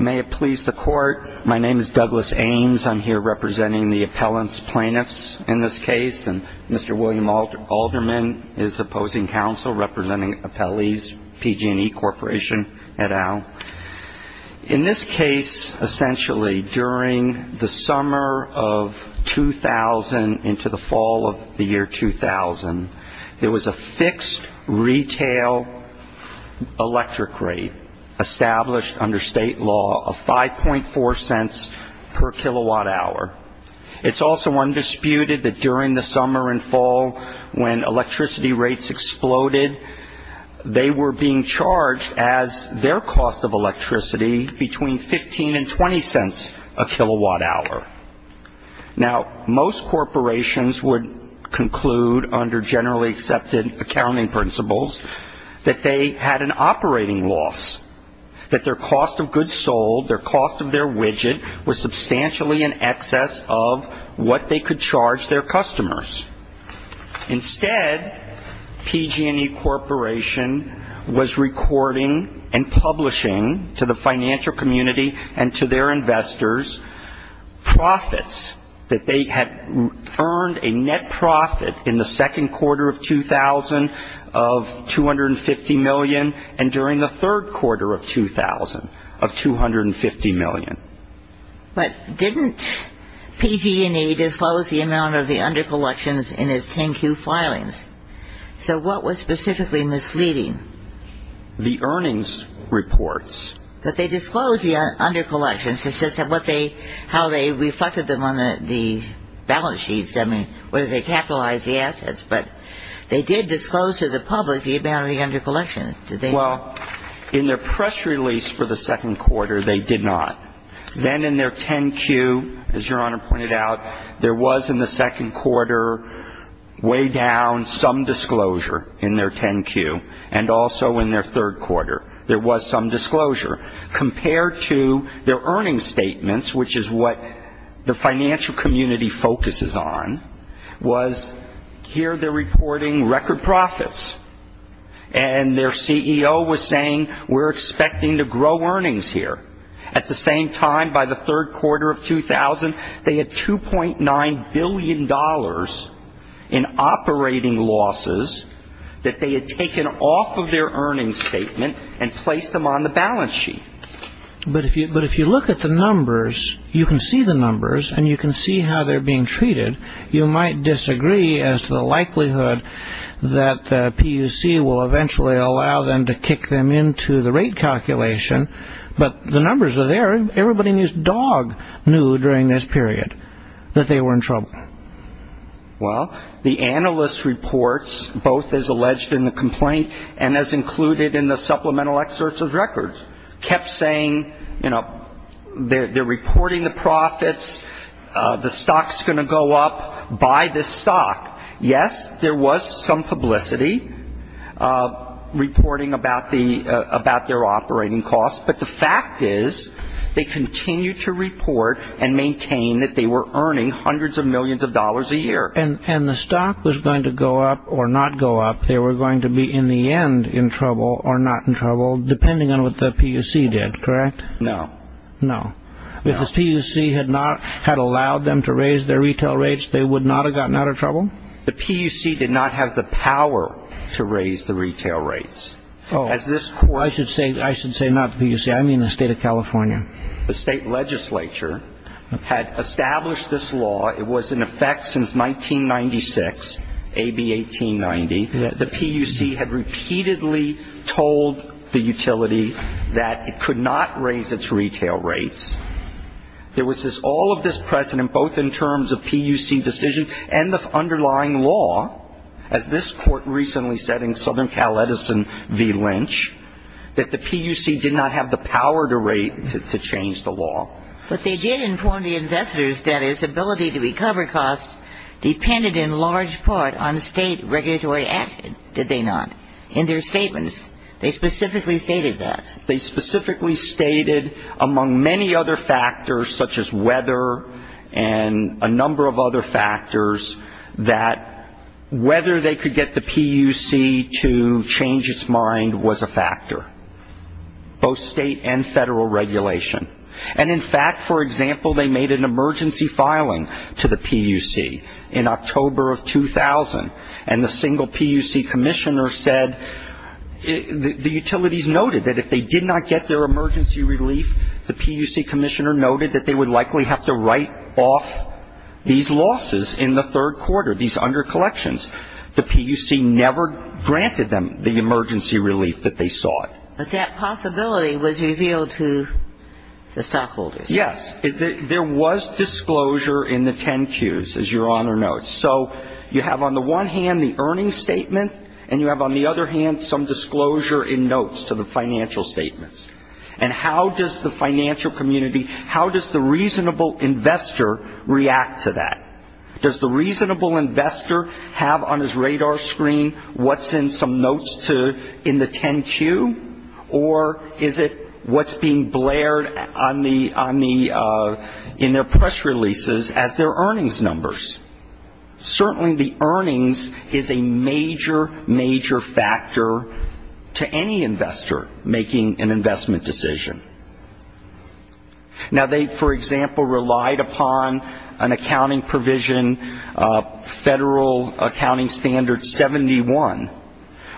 May it please the court, my name is Douglas Ames, I'm here representing the appellant's plaintiffs in this case, and Mr. William Alderman is opposing counsel representing appellees, PG&E Corp. et al. In this case, essentially, during the summer of 2000 into the fall of the year 2000, there was a fixed retail electric rate established under state law of 5.4 cents per kilowatt hour. It's also undisputed that during the summer and fall, when electricity rates exploded, they were being charged as their cost of electricity between 15 and 20 cents a kilowatt hour. Now, most corporations would conclude under generally accepted accounting principles that they had an operating loss, that their cost of goods sold, their cost of their widget, was substantially in excess of what they could charge their customers. Instead, PG&E Corp. was recording and publishing to the financial community and to their investors profits that they had earned a net profit in the second quarter of 2000 of $250 million and during the third quarter of 2000 of $250 million. But didn't PG&E disclose the amount of the undercollections in its 10Q filings? So what was specifically misleading? The earnings reports. But they disclosed the undercollections. It's just how they reflected them on the balance sheets. I mean, whether they capitalized the assets, but they did disclose to the public the amount of the undercollections. Well, in their press release for the second quarter, they did not. Then in their 10Q, as Your Honor pointed out, there was in the second quarter way down some disclosure in their 10Q and also in their third quarter there was some disclosure. Compared to their earnings statements, which is what the financial community focuses on, was here they're reporting record profits. And their CEO was saying, we're expecting to grow earnings here. At the same time, by the third quarter of 2000, they had $2.9 billion in operating losses that they had taken off of their earnings statement and placed them on the balance sheet. But if you look at the numbers, you can see the numbers, and you can see how they're being treated. You might disagree as to the likelihood that the PUC will eventually allow them to kick them into the rate calculation. But the numbers are there. Everybody in this dog knew during this period that they were in trouble. Well, the analyst reports, both as alleged in the complaint and as included in the supplemental excerpts of records, kept saying, you know, they're reporting the profits, the stock's going to go up, buy this stock. Yes, there was some publicity reporting about their operating costs, but the fact is they continued to report and maintain that they were earning hundreds of millions of dollars a year. And the stock was going to go up or not go up, they were going to be in the end in trouble or not in trouble, depending on what the PUC did, correct? No. No. If the PUC had allowed them to raise their retail rates, they would not have gotten out of trouble? The PUC did not have the power to raise the retail rates. Oh, I should say not the PUC. I mean the state of California. The state legislature had established this law. It was in effect since 1996, AB 1890. The PUC had repeatedly told the utility that it could not raise its retail rates. There was all of this precedent, both in terms of PUC decision and the underlying law, as this court recently said in Southern Cal Edison v. Lynch, that the PUC did not have the power to change the law. But they did inform the investors that its ability to recover costs depended in large part on state regulatory action, did they not, in their statements? They specifically stated that. They specifically stated, among many other factors, such as weather and a number of other factors, that whether they could get the PUC to change its mind was a factor, both state and federal regulation. And in fact, for example, they made an emergency filing to the PUC in October of 2000, and the single PUC commissioner said the utilities noted that if they did not get their emergency relief, the PUC commissioner noted that they would likely have to write off these losses in the third quarter, these under-collections. The PUC never granted them the emergency relief that they sought. But that possibility was revealed to the stockholders. Yes. There was disclosure in the 10-Qs, as Your Honor notes. So you have on the one hand the earnings statement, and you have on the other hand some disclosure in notes to the financial statements. And how does the financial community, how does the reasonable investor react to that? Does the reasonable investor have on his radar screen what's in some notes in the 10-Q, or is it what's being blared in their press releases as their earnings numbers? Certainly the earnings is a major, major factor to any investor making an investment decision. Now, they, for example, relied upon an accounting provision, Federal Accounting Standard 71,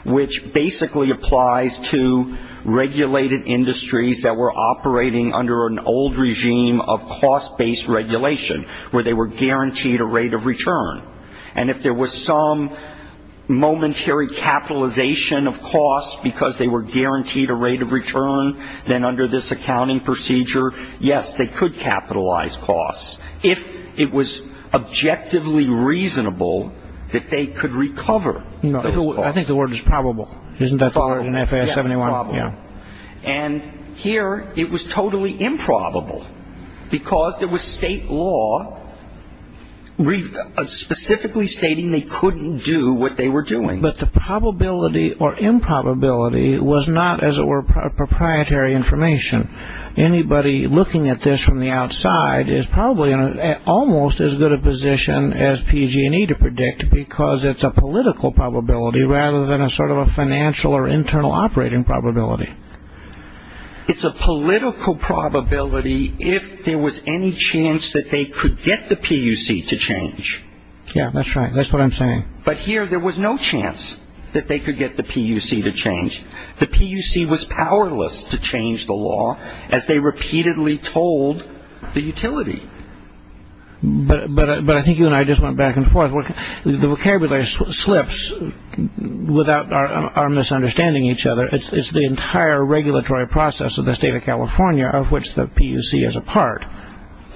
which basically applies to regulated industries that were operating under an old regime of cost-based regulation, where they were guaranteed a rate of return. And if there was some momentary capitalization of costs because they were guaranteed a rate of return, then under this accounting procedure, yes, they could capitalize costs. If it was objectively reasonable that they could recover those costs. I think the word is probable. Isn't that the word in FAS 71? And here it was totally improbable because there was state law specifically stating they couldn't do what they were doing. But the probability or improbability was not, as it were, proprietary information. Anybody looking at this from the outside is probably in almost as good a position as PG&E to predict because it's a political probability rather than a sort of a financial or internal operating probability. It's a political probability if there was any chance that they could get the PUC to change. Yeah, that's right. That's what I'm saying. But here there was no chance that they could get the PUC to change. The PUC was powerless to change the law as they repeatedly told the utility. But I think you and I just went back and forth. The vocabulary slips without our misunderstanding each other. It's the entire regulatory process of the state of California of which the PUC is a part.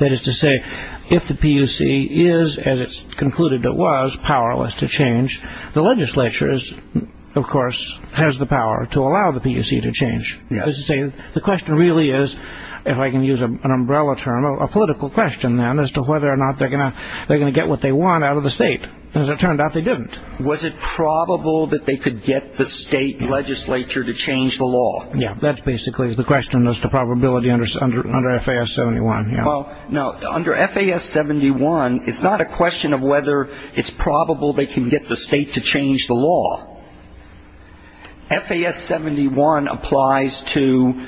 That is to say, if the PUC is, as it's concluded it was, powerless to change, the legislature, of course, has the power to allow the PUC to change. The question really is, if I can use an umbrella term, a political question then as to whether or not they're going to get what they want out of the state. As it turned out, they didn't. Was it probable that they could get the state legislature to change the law? Yeah, that's basically the question as to probability under FAS-71. Well, no, under FAS-71 it's not a question of whether it's probable they can get the state to change the law. FAS-71 applies to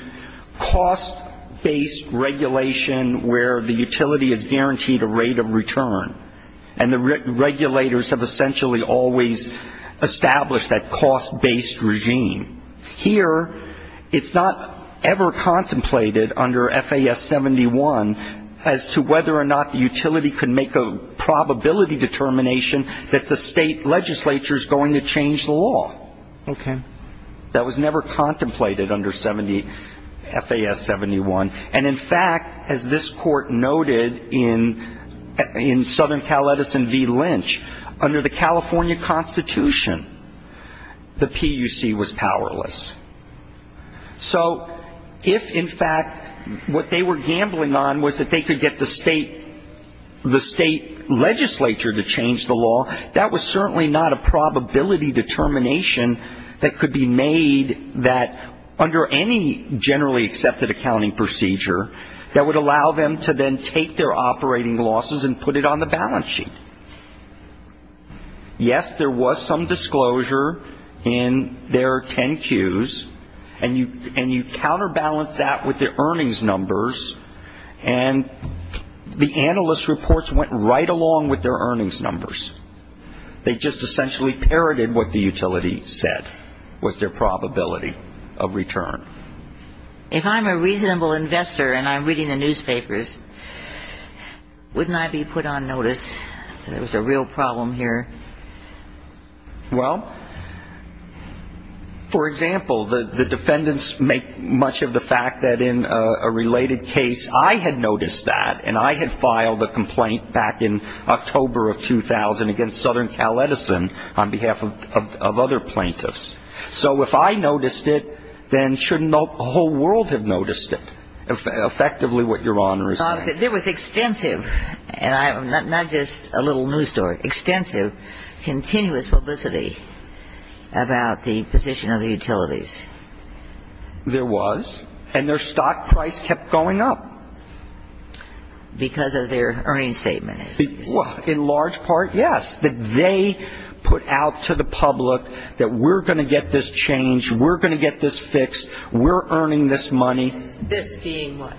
cost-based regulation where the utility is guaranteed a rate of return. And the regulators have essentially always established that cost-based regime. Here it's not ever contemplated under FAS-71 as to whether or not the utility could make a probability determination that the state legislature is going to change the law. Okay. That was never contemplated under FAS-71. And, in fact, as this court noted in Southern Cal Edison v. Lynch, under the California Constitution, the PUC was powerless. So if, in fact, what they were gambling on was that they could get the state legislature to change the law, that was certainly not a probability determination that could be made that under any generally accepted accounting procedure that would allow them to then take their operating losses and put it on the balance sheet. Yes, there was some disclosure in their 10 Qs, and you counterbalanced that with their earnings numbers, and the analyst reports went right along with their earnings numbers. They just essentially parroted what the utility said was their probability of return. If I'm a reasonable investor and I'm reading the newspapers, wouldn't I be put on notice that there was a real problem here? Well, for example, the defendants make much of the fact that in a related case I had noticed that, and I had filed a complaint back in October of 2000 against Southern Cal Edison on behalf of other plaintiffs. So if I noticed it, then shouldn't the whole world have noticed it, effectively what Your Honor is saying? There was extensive, and not just a little news story, extensive, continuous publicity about the position of the utilities. There was, and their stock price kept going up. Because of their earnings statement. In large part, yes, that they put out to the public that we're going to get this changed, we're going to get this fixed, we're earning this money. This being what?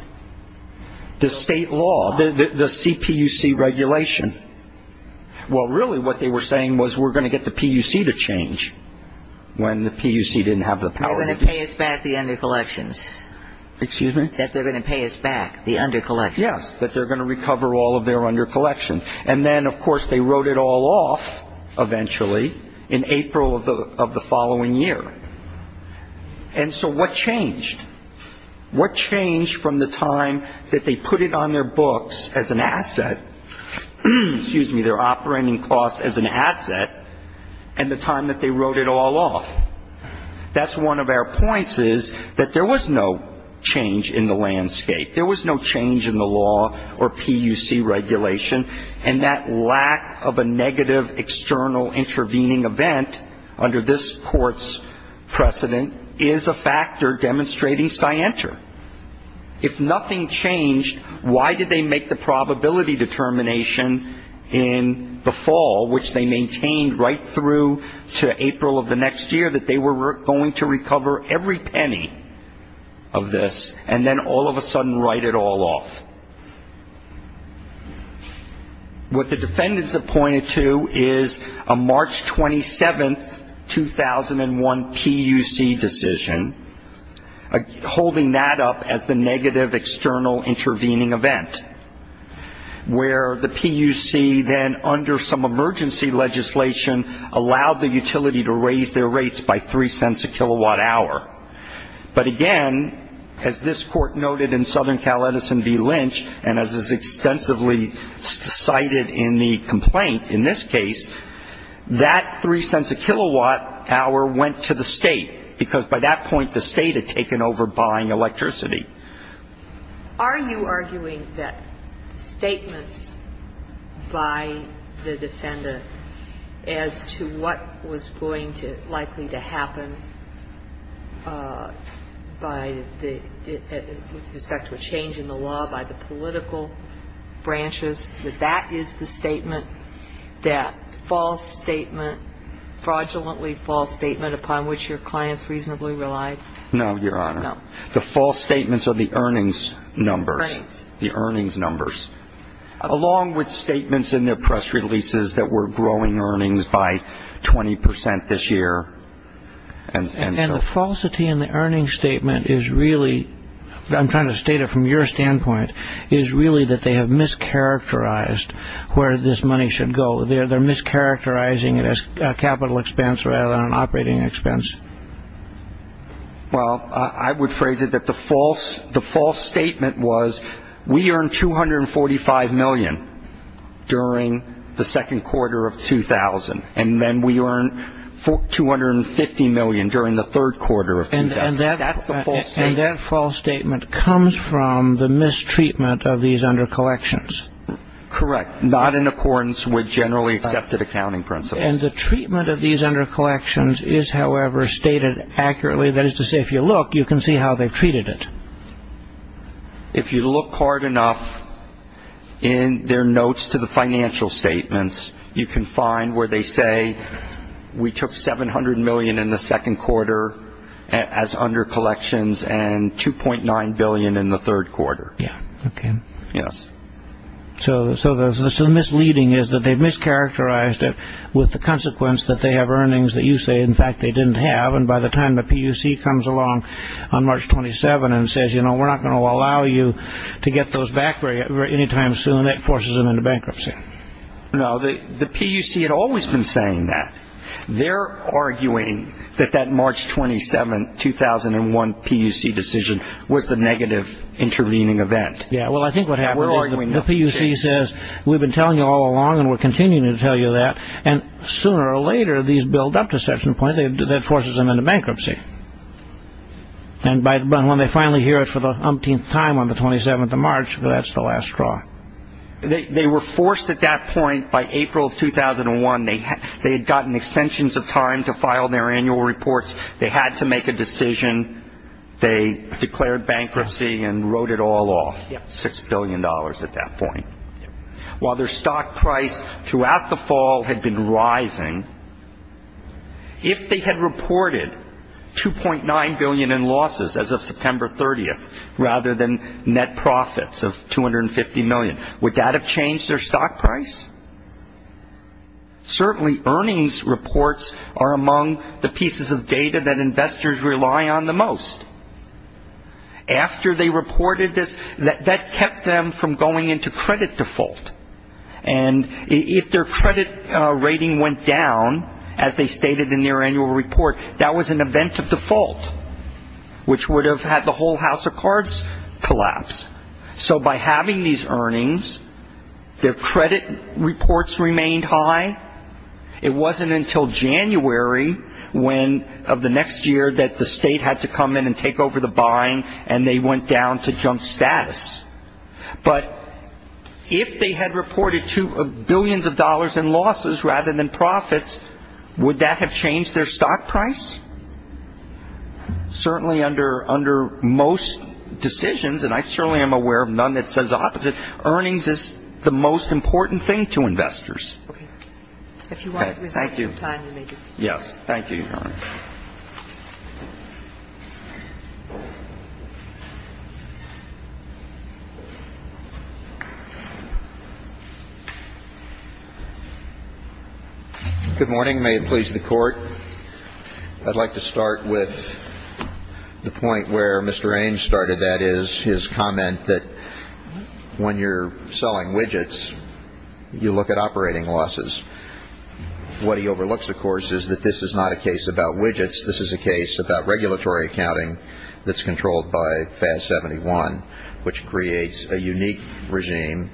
The state law, the CPUC regulation. Well, really what they were saying was we're going to get the PUC to change when the PUC didn't have the power. They're going to pay us back the undercollections. Excuse me? That they're going to pay us back the undercollections. Yes, that they're going to recover all of their undercollections. And then, of course, they wrote it all off eventually in April of the following year. And so what changed? What changed from the time that they put it on their books as an asset, excuse me, their operating costs as an asset, and the time that they wrote it all off? That's one of our points is that there was no change in the landscape. There was no change in the law or PUC regulation. And that lack of a negative external intervening event under this court's precedent is a factor demonstrating scienter. If nothing changed, why did they make the probability determination in the fall, which they maintained right through to April of the next year, that they were going to recover every penny of this and then all of a sudden write it all off? What the defendants have pointed to is a March 27, 2001, PUC decision, holding that up as the negative external intervening event, where the PUC then, under some emergency legislation, allowed the utility to raise their rates by 3 cents a kilowatt hour. But again, as this court noted in Southern Cal Edison v. Lynch, and as is extensively cited in the complaint in this case, that 3 cents a kilowatt hour went to the state, because by that point the state had taken over buying electricity. Are you arguing that statements by the defendant as to what was going to, likely to happen by the, with respect to a change in the law by the political branches, that that is the statement, that false statement, fraudulently false statement upon which your clients reasonably relied? No, Your Honor. No. The false statements are the earnings numbers. Right. The earnings numbers. Along with statements in their press releases that were growing earnings by 20% this year. And the falsity in the earnings statement is really, I'm trying to state it from your standpoint, is really that they have mischaracterized where this money should go. They're mischaracterizing it as a capital expense rather than an operating expense. Well, I would phrase it that the false statement was, we earned $245 million during the second quarter of 2000, and then we earned $250 million during the third quarter of 2000. That's the false statement. And that false statement comes from the mistreatment of these under collections. Correct. Not in accordance with generally accepted accounting principles. And the treatment of these under collections is, however, stated accurately. That is to say, if you look, you can see how they've treated it. If you look hard enough in their notes to the financial statements, you can find where they say we took $700 million in the second quarter as under collections and $2.9 billion in the third quarter. Yeah. Okay. Yes. So the misleading is that they've mischaracterized it with the consequence that they have earnings that you say, in fact, they didn't have. And by the time the PUC comes along on March 27 and says, you know, we're not going to allow you to get those back any time soon, that forces them into bankruptcy. No. The PUC had always been saying that. They're arguing that that March 27, 2001 PUC decision was the negative intervening event. Yeah. Well, I think what happened is the PUC says, we've been telling you all along and we're continuing to tell you that. And sooner or later, these build up to such a point that forces them into bankruptcy. And when they finally hear it for the umpteenth time on the 27th of March, that's the last straw. They were forced at that point by April of 2001. They had gotten extensions of time to file their annual reports. They had to make a decision. They declared bankruptcy and wrote it all off, $6 billion at that point. While their stock price throughout the fall had been rising, if they had reported $2.9 billion in losses as of September 30th, rather than net profits of $250 million, would that have changed their stock price? Certainly, earnings reports are among the pieces of data that investors rely on the most. After they reported this, that kept them from going into credit default. And if their credit rating went down, as they stated in their annual report, that was an event of default, which would have had the whole house of cards collapse. So by having these earnings, their credit reports remained high. It wasn't until January of the next year that the state had to come in and take over the buying, and they went down to junk status. But if they had reported billions of dollars in losses rather than profits, would that have changed their stock price? Certainly, under most decisions, and I certainly am aware of none that says the opposite, earnings is the most important thing to investors. Okay. If you want to resume some time, you may do so. Yes. Thank you, Your Honor. Good morning. May it please the Court. I'd like to start with the point where Mr. Ames started that, is his comment that when you're selling widgets, you look at operating losses. What he overlooks, of course, is that this is not a case about widgets. This is a case about regulatory accounting that's controlled by FAS 71, which creates a unique regime.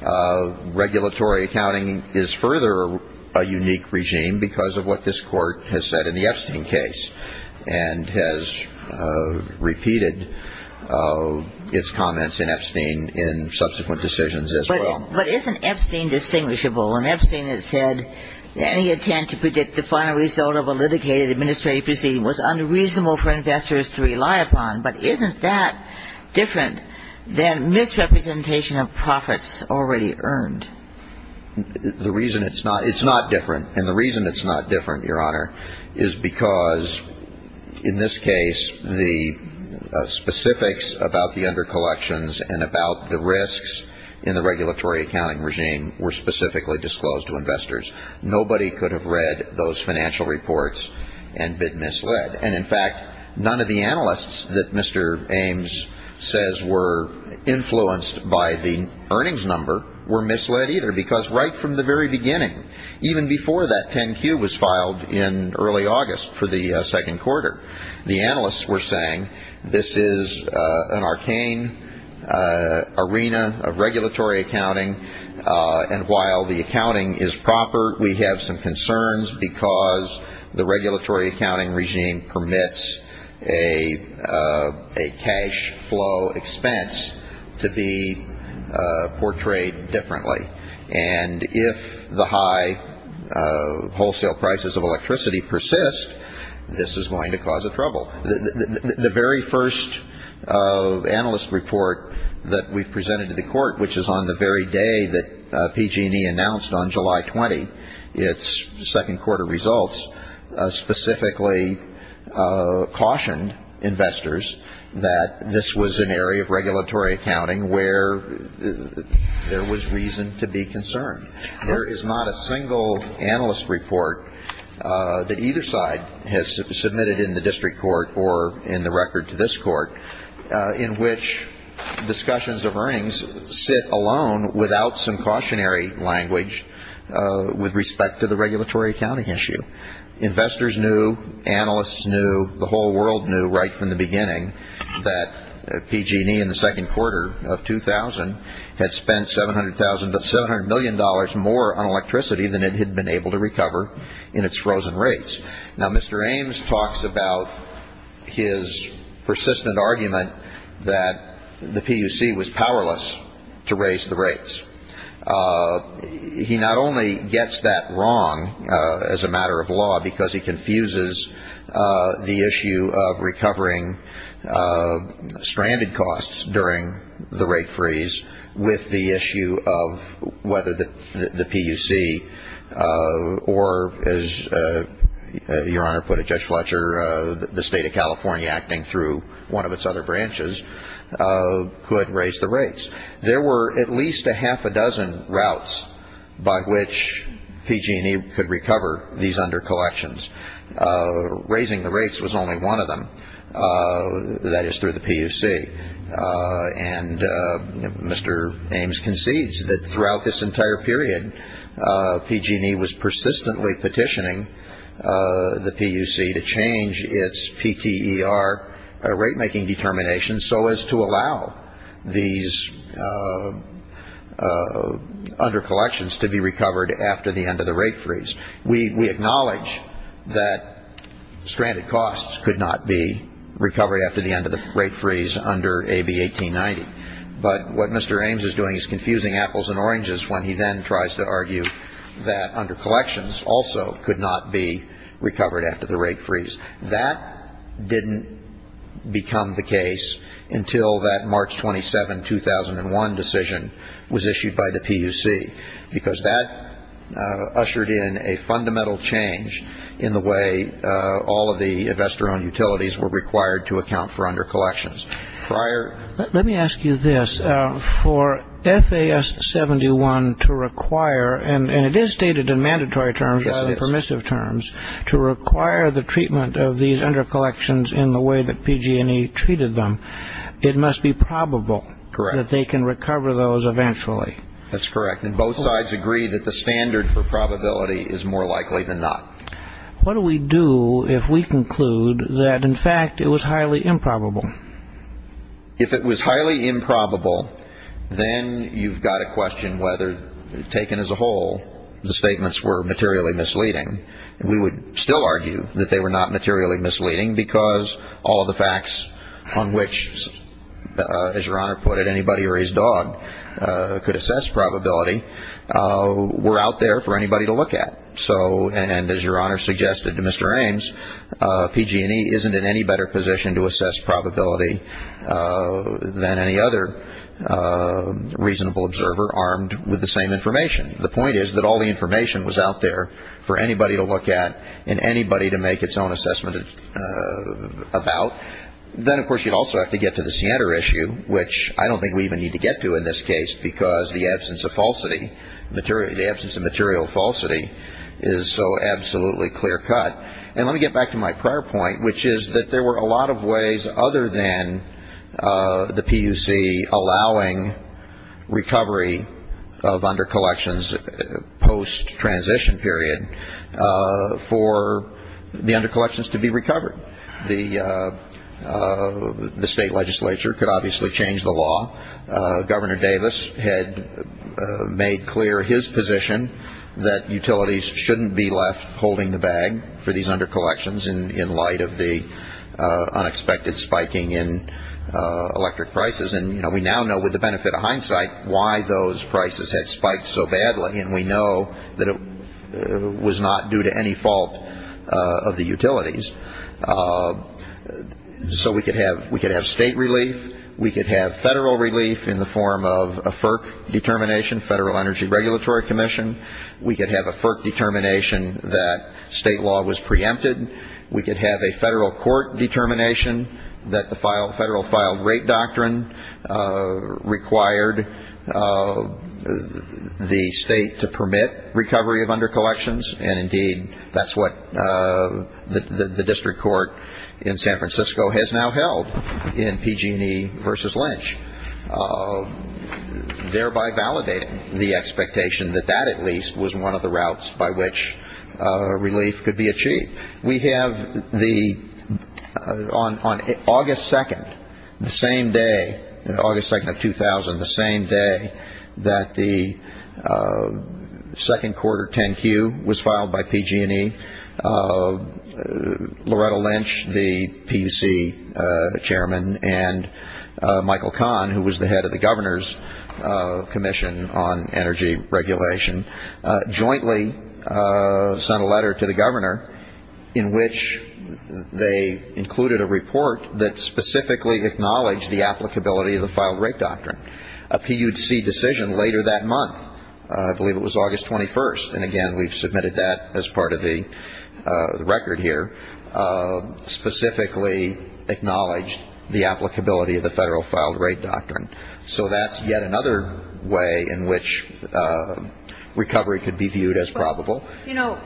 Regulatory accounting is further a unique regime because of what this Court has said in the Epstein case and has repeated its comments in Epstein in subsequent decisions as well. But isn't Epstein distinguishable? In Epstein, it said, any attempt to predict the final result of a litigated administrative proceeding was unreasonable for investors to rely upon. But isn't that different than misrepresentation of profits already earned? The reason it's not different, and the reason it's not different, Your Honor, is because in this case, the specifics about the under-collections and about the risks in the regulatory accounting regime were specifically disclosed to investors. Nobody could have read those financial reports and been misled. And, in fact, none of the analysts that Mr. Ames says were influenced by the earnings number were misled either because right from the very beginning, even before that 10-Q was filed in early August for the second quarter, the analysts were saying, this is an arcane arena of regulatory accounting, and while the accounting is proper, we have some concerns because the regulatory accounting regime permits a cash flow expense to be portrayed differently. And if the high wholesale prices of electricity persist, this is going to cause a trouble. The very first analyst report that we presented to the court, which is on the very day that PG&E announced on July 20th its second quarter results, specifically cautioned investors that this was an area of regulatory accounting where there was reason to be concerned. There is not a single analyst report that either side has submitted in the district court or in the record to this court in which discussions of earnings sit alone without some cautionary language with respect to the regulatory accounting issue. Investors knew. Analysts knew. The whole world knew right from the beginning that PG&E in the second quarter of 2000 had spent $700 million more on electricity than it had been able to recover in its frozen rates. Now, Mr. Ames talks about his persistent argument that the PUC was powerless to raise the rates. He not only gets that wrong as a matter of law because he confuses the issue of recovering stranded costs during the rate freeze with the issue of whether the PUC or, as Your Honor put it, Judge Fletcher, the State of California acting through one of its other branches, could raise the rates. There were at least a half a dozen routes by which PG&E could recover these under-collections. Raising the rates was only one of them. That is through the PUC. And Mr. Ames concedes that throughout this entire period, PG&E was persistently petitioning the PUC to change its PTER, rate-making determination, so as to allow these under-collections to be recovered after the end of the rate freeze. We acknowledge that stranded costs could not be recovered after the end of the rate freeze under AB 1890. But what Mr. Ames is doing is confusing apples and oranges when he then tries to argue that under-collections also could not be recovered after the rate freeze. That didn't become the case until that March 27, 2001 decision was issued by the PUC, because that ushered in a fundamental change in the way all of the investor-owned utilities were required to account for under-collections. Prior to that, let me ask you this. For FAS71 to require, and it is stated in mandatory terms rather than permissive terms, to require the treatment of these under-collections in the way that PG&E treated them, it must be probable that they can recover those eventually. That's correct. And both sides agree that the standard for probability is more likely than not. What do we do if we conclude that, in fact, it was highly improbable? If it was highly improbable, then you've got to question whether, taken as a whole, the statements were materially misleading. We would still argue that they were not materially misleading because all of the facts on which, as Your Honor put it, anybody or his dog could assess probability were out there for anybody to look at. And as Your Honor suggested to Mr. Ames, PG&E isn't in any better position to assess probability than any other reasonable observer armed with the same information. The point is that all the information was out there for anybody to look at and anybody to make its own assessment about. Then, of course, you'd also have to get to the CNTR issue, which I don't think we even need to get to in this case because the absence of falsity, the absence of material falsity is so absolutely clear-cut. And let me get back to my prior point, which is that there were a lot of ways other than the PUC allowing recovery of undercollections post-transition period for the undercollections to be recovered. The state legislature could obviously change the law. Governor Davis had made clear his position that utilities shouldn't be left holding the bag for these undercollections in light of the unexpected spiking in electric prices. And we now know with the benefit of hindsight why those prices had spiked so badly, and we know that it was not due to any fault of the utilities. So we could have state relief. We could have federal relief in the form of a FERC determination, Federal Energy Regulatory Commission. We could have a FERC determination that state law was preempted. We could have a federal court determination that the Federal Filed Rate Doctrine required the state to permit recovery of undercollections. And, indeed, that's what the district court in San Francisco has now held in PG&E versus Lynch, thereby validating the expectation that that at least was one of the routes by which relief could be achieved. We have on August 2nd, the same day, August 2nd of 2000, the same day that the second quarter 10Q was filed by PG&E, Loretta Lynch, the PUC chairman, and Michael Kahn, who was the head of the Governor's Commission on Energy Regulation, jointly sent a letter to the governor in which they included a report that specifically acknowledged the applicability of the Filed Rate Doctrine, a PUC decision later that month. I believe it was August 21st. And, again, we've submitted that as part of the record here, specifically acknowledged the applicability of the Federal Filed Rate Doctrine. So that's yet another way in which recovery could be viewed as probable. You know,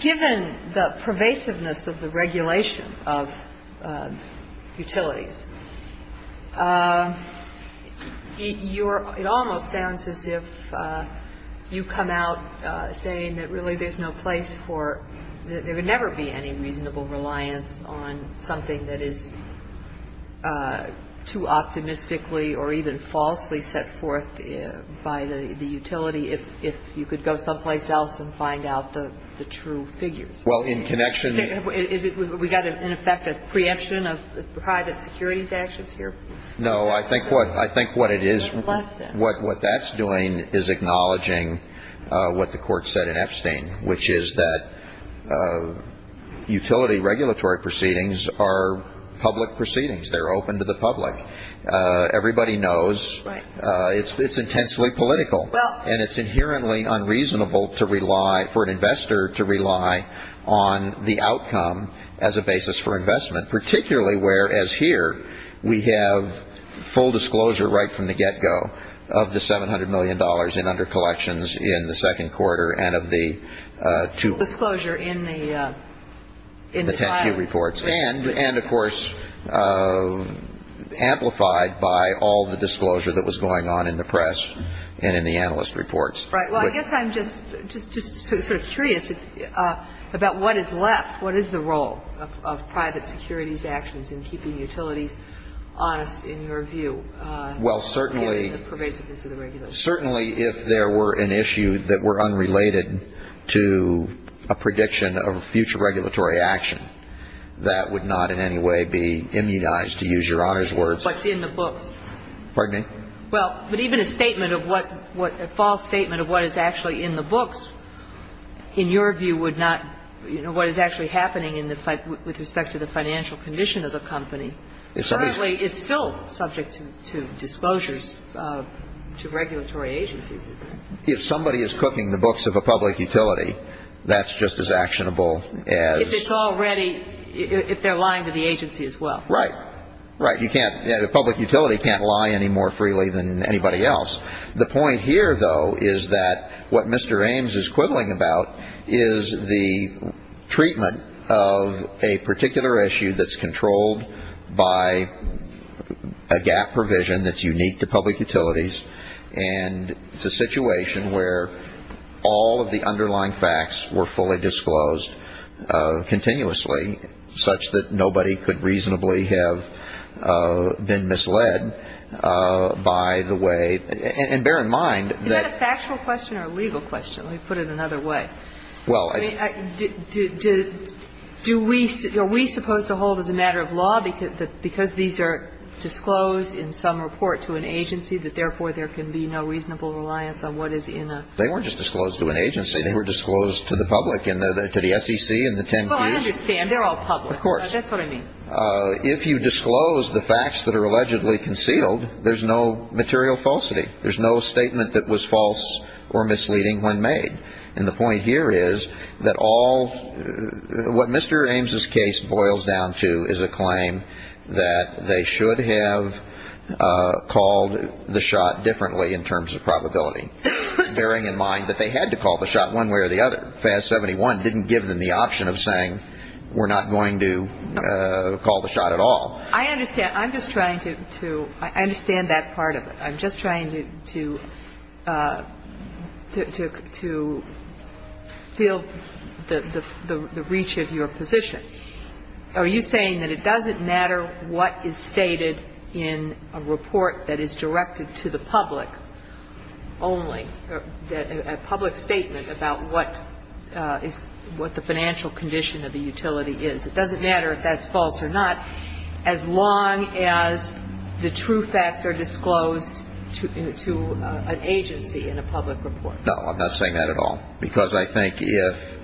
given the pervasiveness of the regulation of utilities, it almost sounds as if you come out saying that, really, there's no place for – there would never be any reasonable reliance on something that is too optimistically or even falsely set forth by the utility if you could go someplace else and find out the true figures. Well, in connection – Is it – we've got, in effect, a preemption of private securities actions here? No, I think what it is – What's left then? What that's doing is acknowledging what the Court said in Epstein, which is that utility regulatory proceedings are public proceedings. They're open to the public. Everybody knows it's intensely political. And it's inherently unreasonable to rely – for an investor to rely on the outcome as a basis for investment, particularly whereas here we have full disclosure right from the get-go of the $700 million in under collections in the second quarter and of the two – Disclosure in the – And, of course, amplified by all the disclosure that was going on in the press and in the analyst reports. Right. Well, I guess I'm just sort of curious about what is left. What is the role of private securities actions in keeping utilities honest in your view? Well, certainly – Given the pervasiveness of the regulatory process. That would not in any way be immunized, to use Your Honor's words. What's in the books. Pardon me? Well, but even a statement of what – a false statement of what is actually in the books, in your view, would not – you know, what is actually happening in the – with respect to the financial condition of the company currently is still subject to disclosures to regulatory agencies. If somebody is cooking the books of a public utility, that's just as actionable as – If it's already – if they're lying to the agency as well. Right. Right. You can't – a public utility can't lie any more freely than anybody else. The point here, though, is that what Mr. Ames is quibbling about is the treatment of a particular issue that's controlled by a gap provision that's unique to public utilities, and it's a situation where all of the underlying facts were fully disclosed continuously, such that nobody could reasonably have been misled by the way – and bear in mind that – Is that a factual question or a legal question? Let me put it another way. Well – I mean, do we – are we supposed to hold as a matter of law because these are disclosed in some report to an agency that therefore there can be no reasonable reliance on what is in a – They weren't just disclosed to an agency. They were disclosed to the public and to the SEC and the 10 Qs. Well, I understand. They're all public. Of course. That's what I mean. If you disclose the facts that are allegedly concealed, there's no material falsity. There's no statement that was false or misleading when made. And the point here is that all – what Mr. Ames' case boils down to is a claim that they should have called the shot differently in terms of probability, bearing in mind that they had to call the shot one way or the other. FAS 71 didn't give them the option of saying we're not going to call the shot at all. I understand. I'm just trying to – I understand that part of it. I'm just trying to feel the reach of your position. Are you saying that it doesn't matter what is stated in a report that is directed to the public only, a public statement about what the financial condition of the utility is. It doesn't matter if that's false or not as long as the true facts are disclosed to an agency in a public report. No, I'm not saying that at all. Because I think if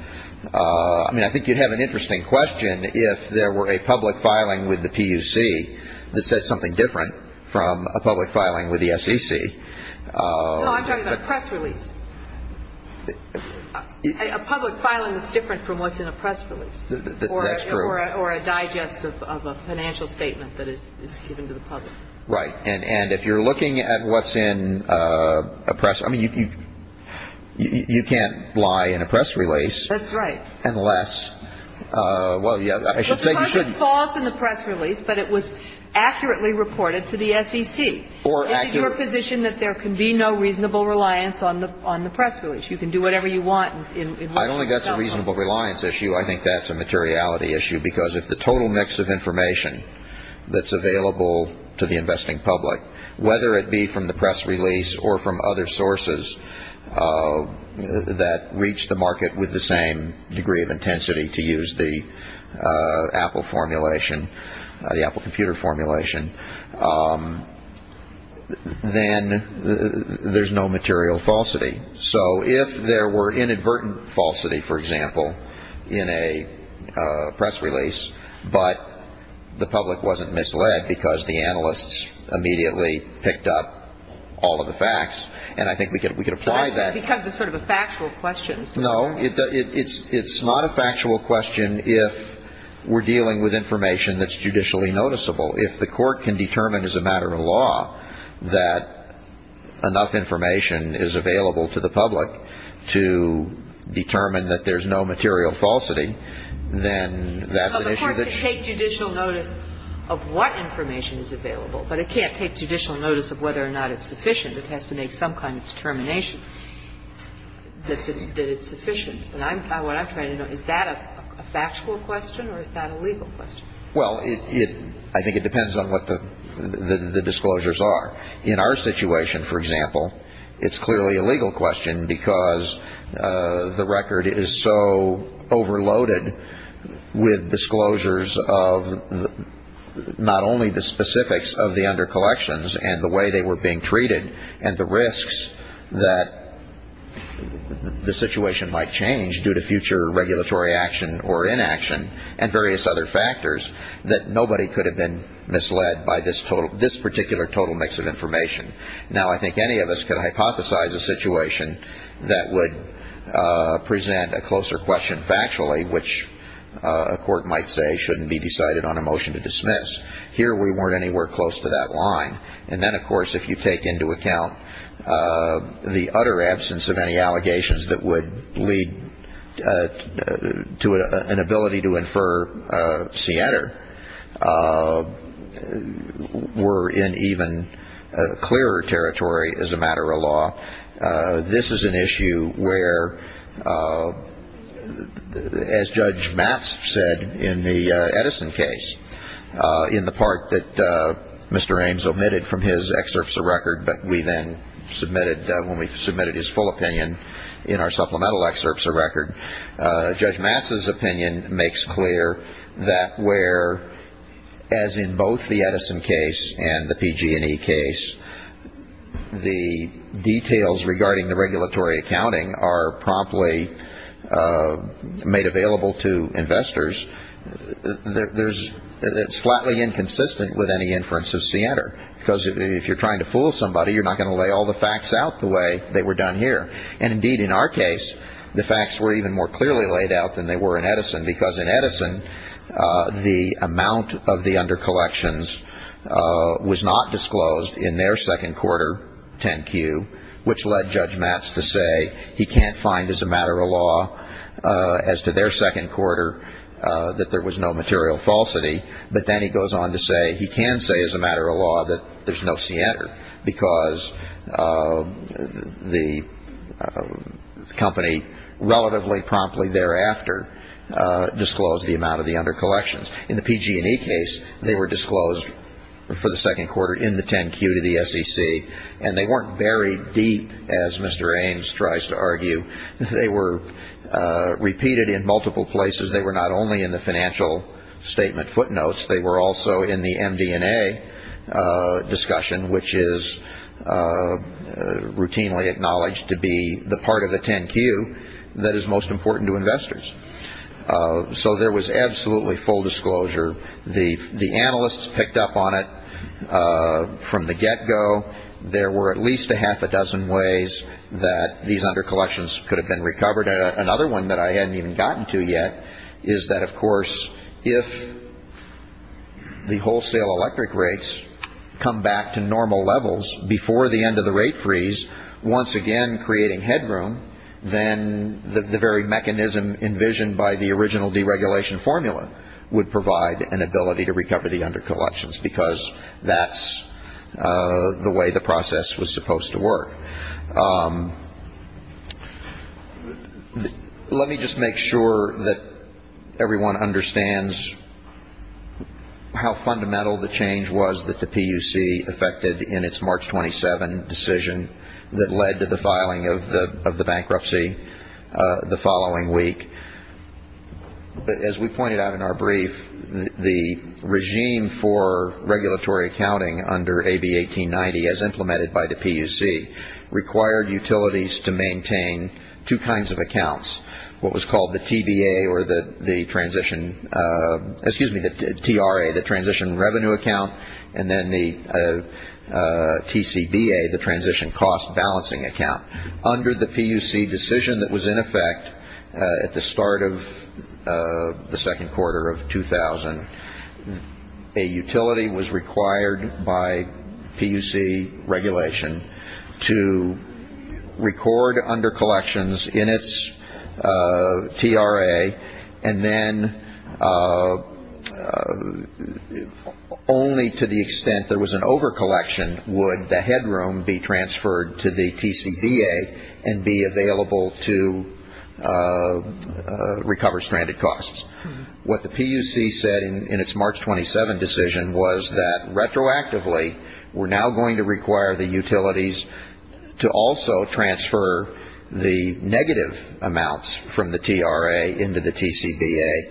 – I mean, I think you'd have an interesting question if there were a public filing with the PUC that said something different from a public filing with the SEC. No, I'm talking about a press release. A public filing that's different from what's in a press release. That's true. Or a digest of a financial statement that is given to the public. Right. And if you're looking at what's in a press – I mean, you can't lie in a press release. That's right. Unless – well, yeah, I should say you shouldn't. Well, sometimes it's false in the press release, but it was accurately reported to the SEC. Or accurately. Is it your position that there can be no reasonable reliance on the press release? You can do whatever you want. I don't think that's a reasonable reliance issue. I think that's a materiality issue because if the total mix of information that's available to the investing public, whether it be from the press release or from other sources that reach the market with the same degree of intensity to use the Apple formulation, the Apple computer formulation, then there's no material falsity. So if there were inadvertent falsity, for example, in a press release, but the public wasn't misled because the analysts immediately picked up all of the facts, and I think we could apply that. Because it's sort of a factual question. No. It's not a factual question if we're dealing with information that's judicially noticeable. If the court can determine as a matter of law that enough information is available to the public to determine that there's no material falsity, then that's an issue that's ---- Well, the court can take judicial notice of what information is available, but it can't take judicial notice of whether or not it's sufficient. It has to make some kind of determination that it's sufficient. And what I'm trying to know, is that a factual question or is that a legal question? Well, I think it depends on what the disclosures are. In our situation, for example, it's clearly a legal question because the record is so overloaded with disclosures of not only the specifics of the undercollections and the way they were being treated and the risks that the situation might change due to future regulatory action or inaction and various other factors that nobody could have been misled by this particular total mix of information. Now, I think any of us could hypothesize a situation that would present a closer question factually, which a court might say shouldn't be decided on a motion to dismiss. Here, we weren't anywhere close to that line. And then, of course, if you take into account the utter absence of any allegations that would lead to an ability to infer Siena were in even clearer territory as a matter of law, this is an issue where, as Judge Matz said in the Edison case, in the part that Mr. Ames omitted from his excerpts of record, but we then submitted when we submitted his full opinion in our supplemental excerpts of record, Judge Matz's opinion makes clear that where, as in both the Edison case and the PG&E case, the details regarding the regulatory accounting are promptly made available to investors, it's flatly inconsistent with any inference of Siena. Because if you're trying to fool somebody, you're not going to lay all the facts out the way they were done here. And indeed, in our case, the facts were even more clearly laid out than they were in Edison, because in Edison, the amount of the under collections was not disclosed in their second quarter 10-Q, which led Judge Matz to say he can't find as a matter of law, as to their second quarter, that there was no material falsity. But then he goes on to say he can say as a matter of law that there's no Siena, because the company relatively promptly thereafter disclosed the amount of the under collections. In the PG&E case, they were disclosed for the second quarter in the 10-Q to the SEC, and they weren't buried deep, as Mr. Ames tries to argue. They were repeated in multiple places. They were not only in the financial statement footnotes. They were also in the MD&A discussion, which is routinely acknowledged to be the part of the 10-Q that is most important to investors. So there was absolutely full disclosure. The analysts picked up on it from the get-go. There were at least a half a dozen ways that these under collections could have been recovered. Another one that I hadn't even gotten to yet is that, of course, if the wholesale electric rates come back to normal levels before the end of the rate freeze, once again creating headroom, then the very mechanism envisioned by the original deregulation formula would provide an ability to recover the under collections, because that's the way the process was supposed to work. Let me just make sure that everyone understands how fundamental the change was that the PUC affected in its March 27 decision that led to the filing of the bankruptcy the following week. As we pointed out in our brief, the regime for regulatory accounting under AB 1890, as implemented by the PUC, required utilities to maintain two kinds of accounts, what was called the TBA or the transition, excuse me, the TRA, the transition revenue account, and then the TCBA, the transition cost balancing account. Under the PUC decision that was in effect at the start of the second quarter of 2000, a utility was required by PUC regulation to record under collections in its TRA and then only to the extent there was an over collection would the headroom be transferred to the TCBA and be available to recover stranded costs. What the PUC said in its March 27 decision was that retroactively we're now going to require the utilities to also transfer the negative amounts from the TRA into the TCBA.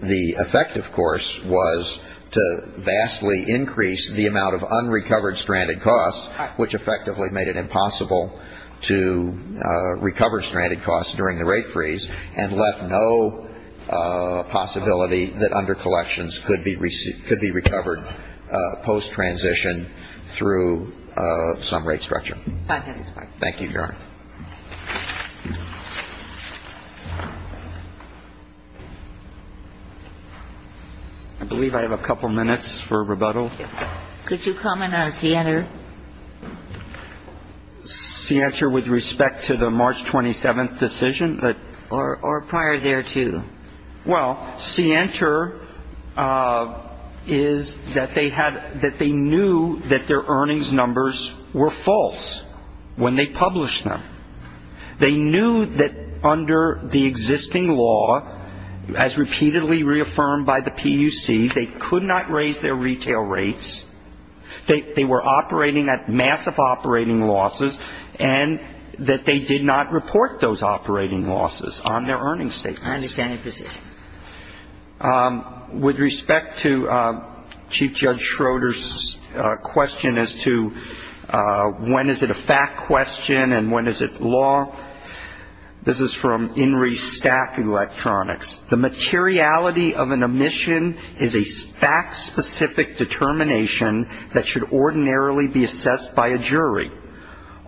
The effect, of course, was to vastly increase the amount of unrecovered stranded costs, which effectively made it impossible to recover stranded costs during the rate freeze and left no possibility that under collections could be recovered post-transition through some rate structure. Thank you, Your Honor. I believe I have a couple minutes for rebuttal. Could you comment on CNR? CNR with respect to the March 27 decision? Or prior thereto. Well, CNR is that they knew that their earnings numbers were false when they published them. They knew that under the existing law, as repeatedly reaffirmed by the PUC, they could not raise their retail rates, they were operating at massive operating losses, and that they did not report those operating losses on their earnings statements. I understand your position. With respect to Chief Judge Schroeder's question as to when is it a fact question and when is it law, this is from INRI Stack Electronics, the materiality of an omission is a fact-specific determination that should ordinarily be assessed by a jury.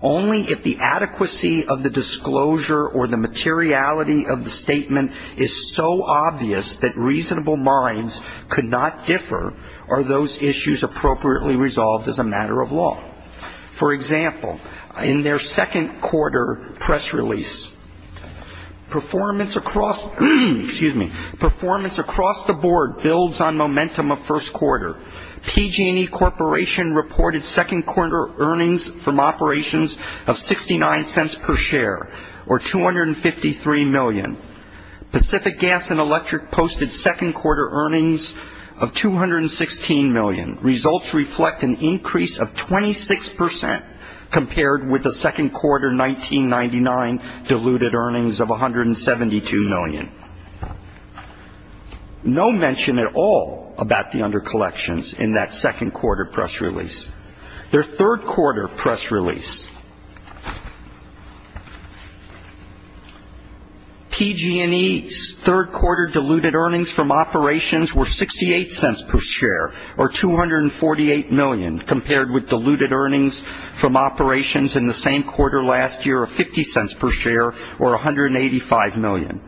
Only if the adequacy of the disclosure or the materiality of the statement is so obvious that reasonable minds could not differ are those issues appropriately resolved as a matter of law. For example, in their second quarter press release, performance across the board builds on momentum of first quarter. PG&E Corporation reported second quarter earnings from operations of 69 cents per share, or 253 million. Pacific Gas and Electric posted second quarter earnings of 216 million. Results reflect an increase of 26 percent compared with the second quarter 1999 diluted earnings of 172 million. No mention at all about the under-collections in that second quarter press release. Their third quarter press release, PG&E's third quarter diluted earnings from operations were 68 cents per share, or 248 million, compared with diluted earnings from operations in the same quarter last year of 50 cents per share, or 185 million.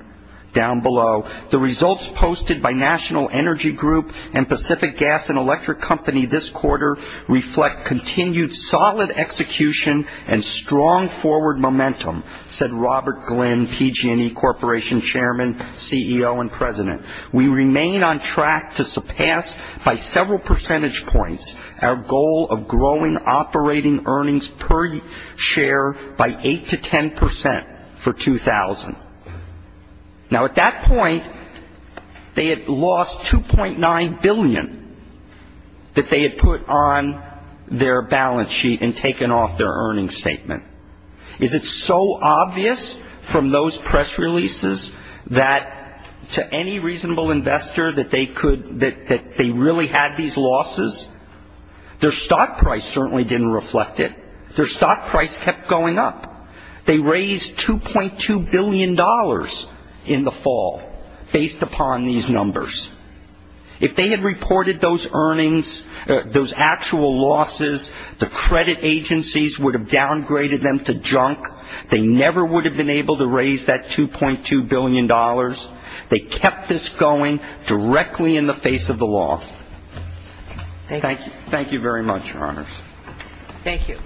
Down below, the results posted by National Energy Group and Pacific Gas and Electric Company this quarter reflect continued solid execution and strong forward momentum, said Robert Glynn, PG&E Corporation chairman, CEO, and president. We remain on track to surpass by several percentage points our goal of growing operating earnings per share by 8 to 10 percent for 2000. Now at that point, they had lost 2.9 billion that they had put on their balance sheet and taken off their earnings statement. Is it so obvious from those press releases that to any reasonable investor that they really had these losses, their stock price certainly didn't reflect it. Their stock price kept going up. They raised $2.2 billion in the fall based upon these numbers. If they had reported those earnings, those actual losses, the credit agencies would have downgraded them to junk. They never would have been able to raise that $2.2 billion. They kept this going directly in the face of the law. Thank you very much, Your Honors. Thank you.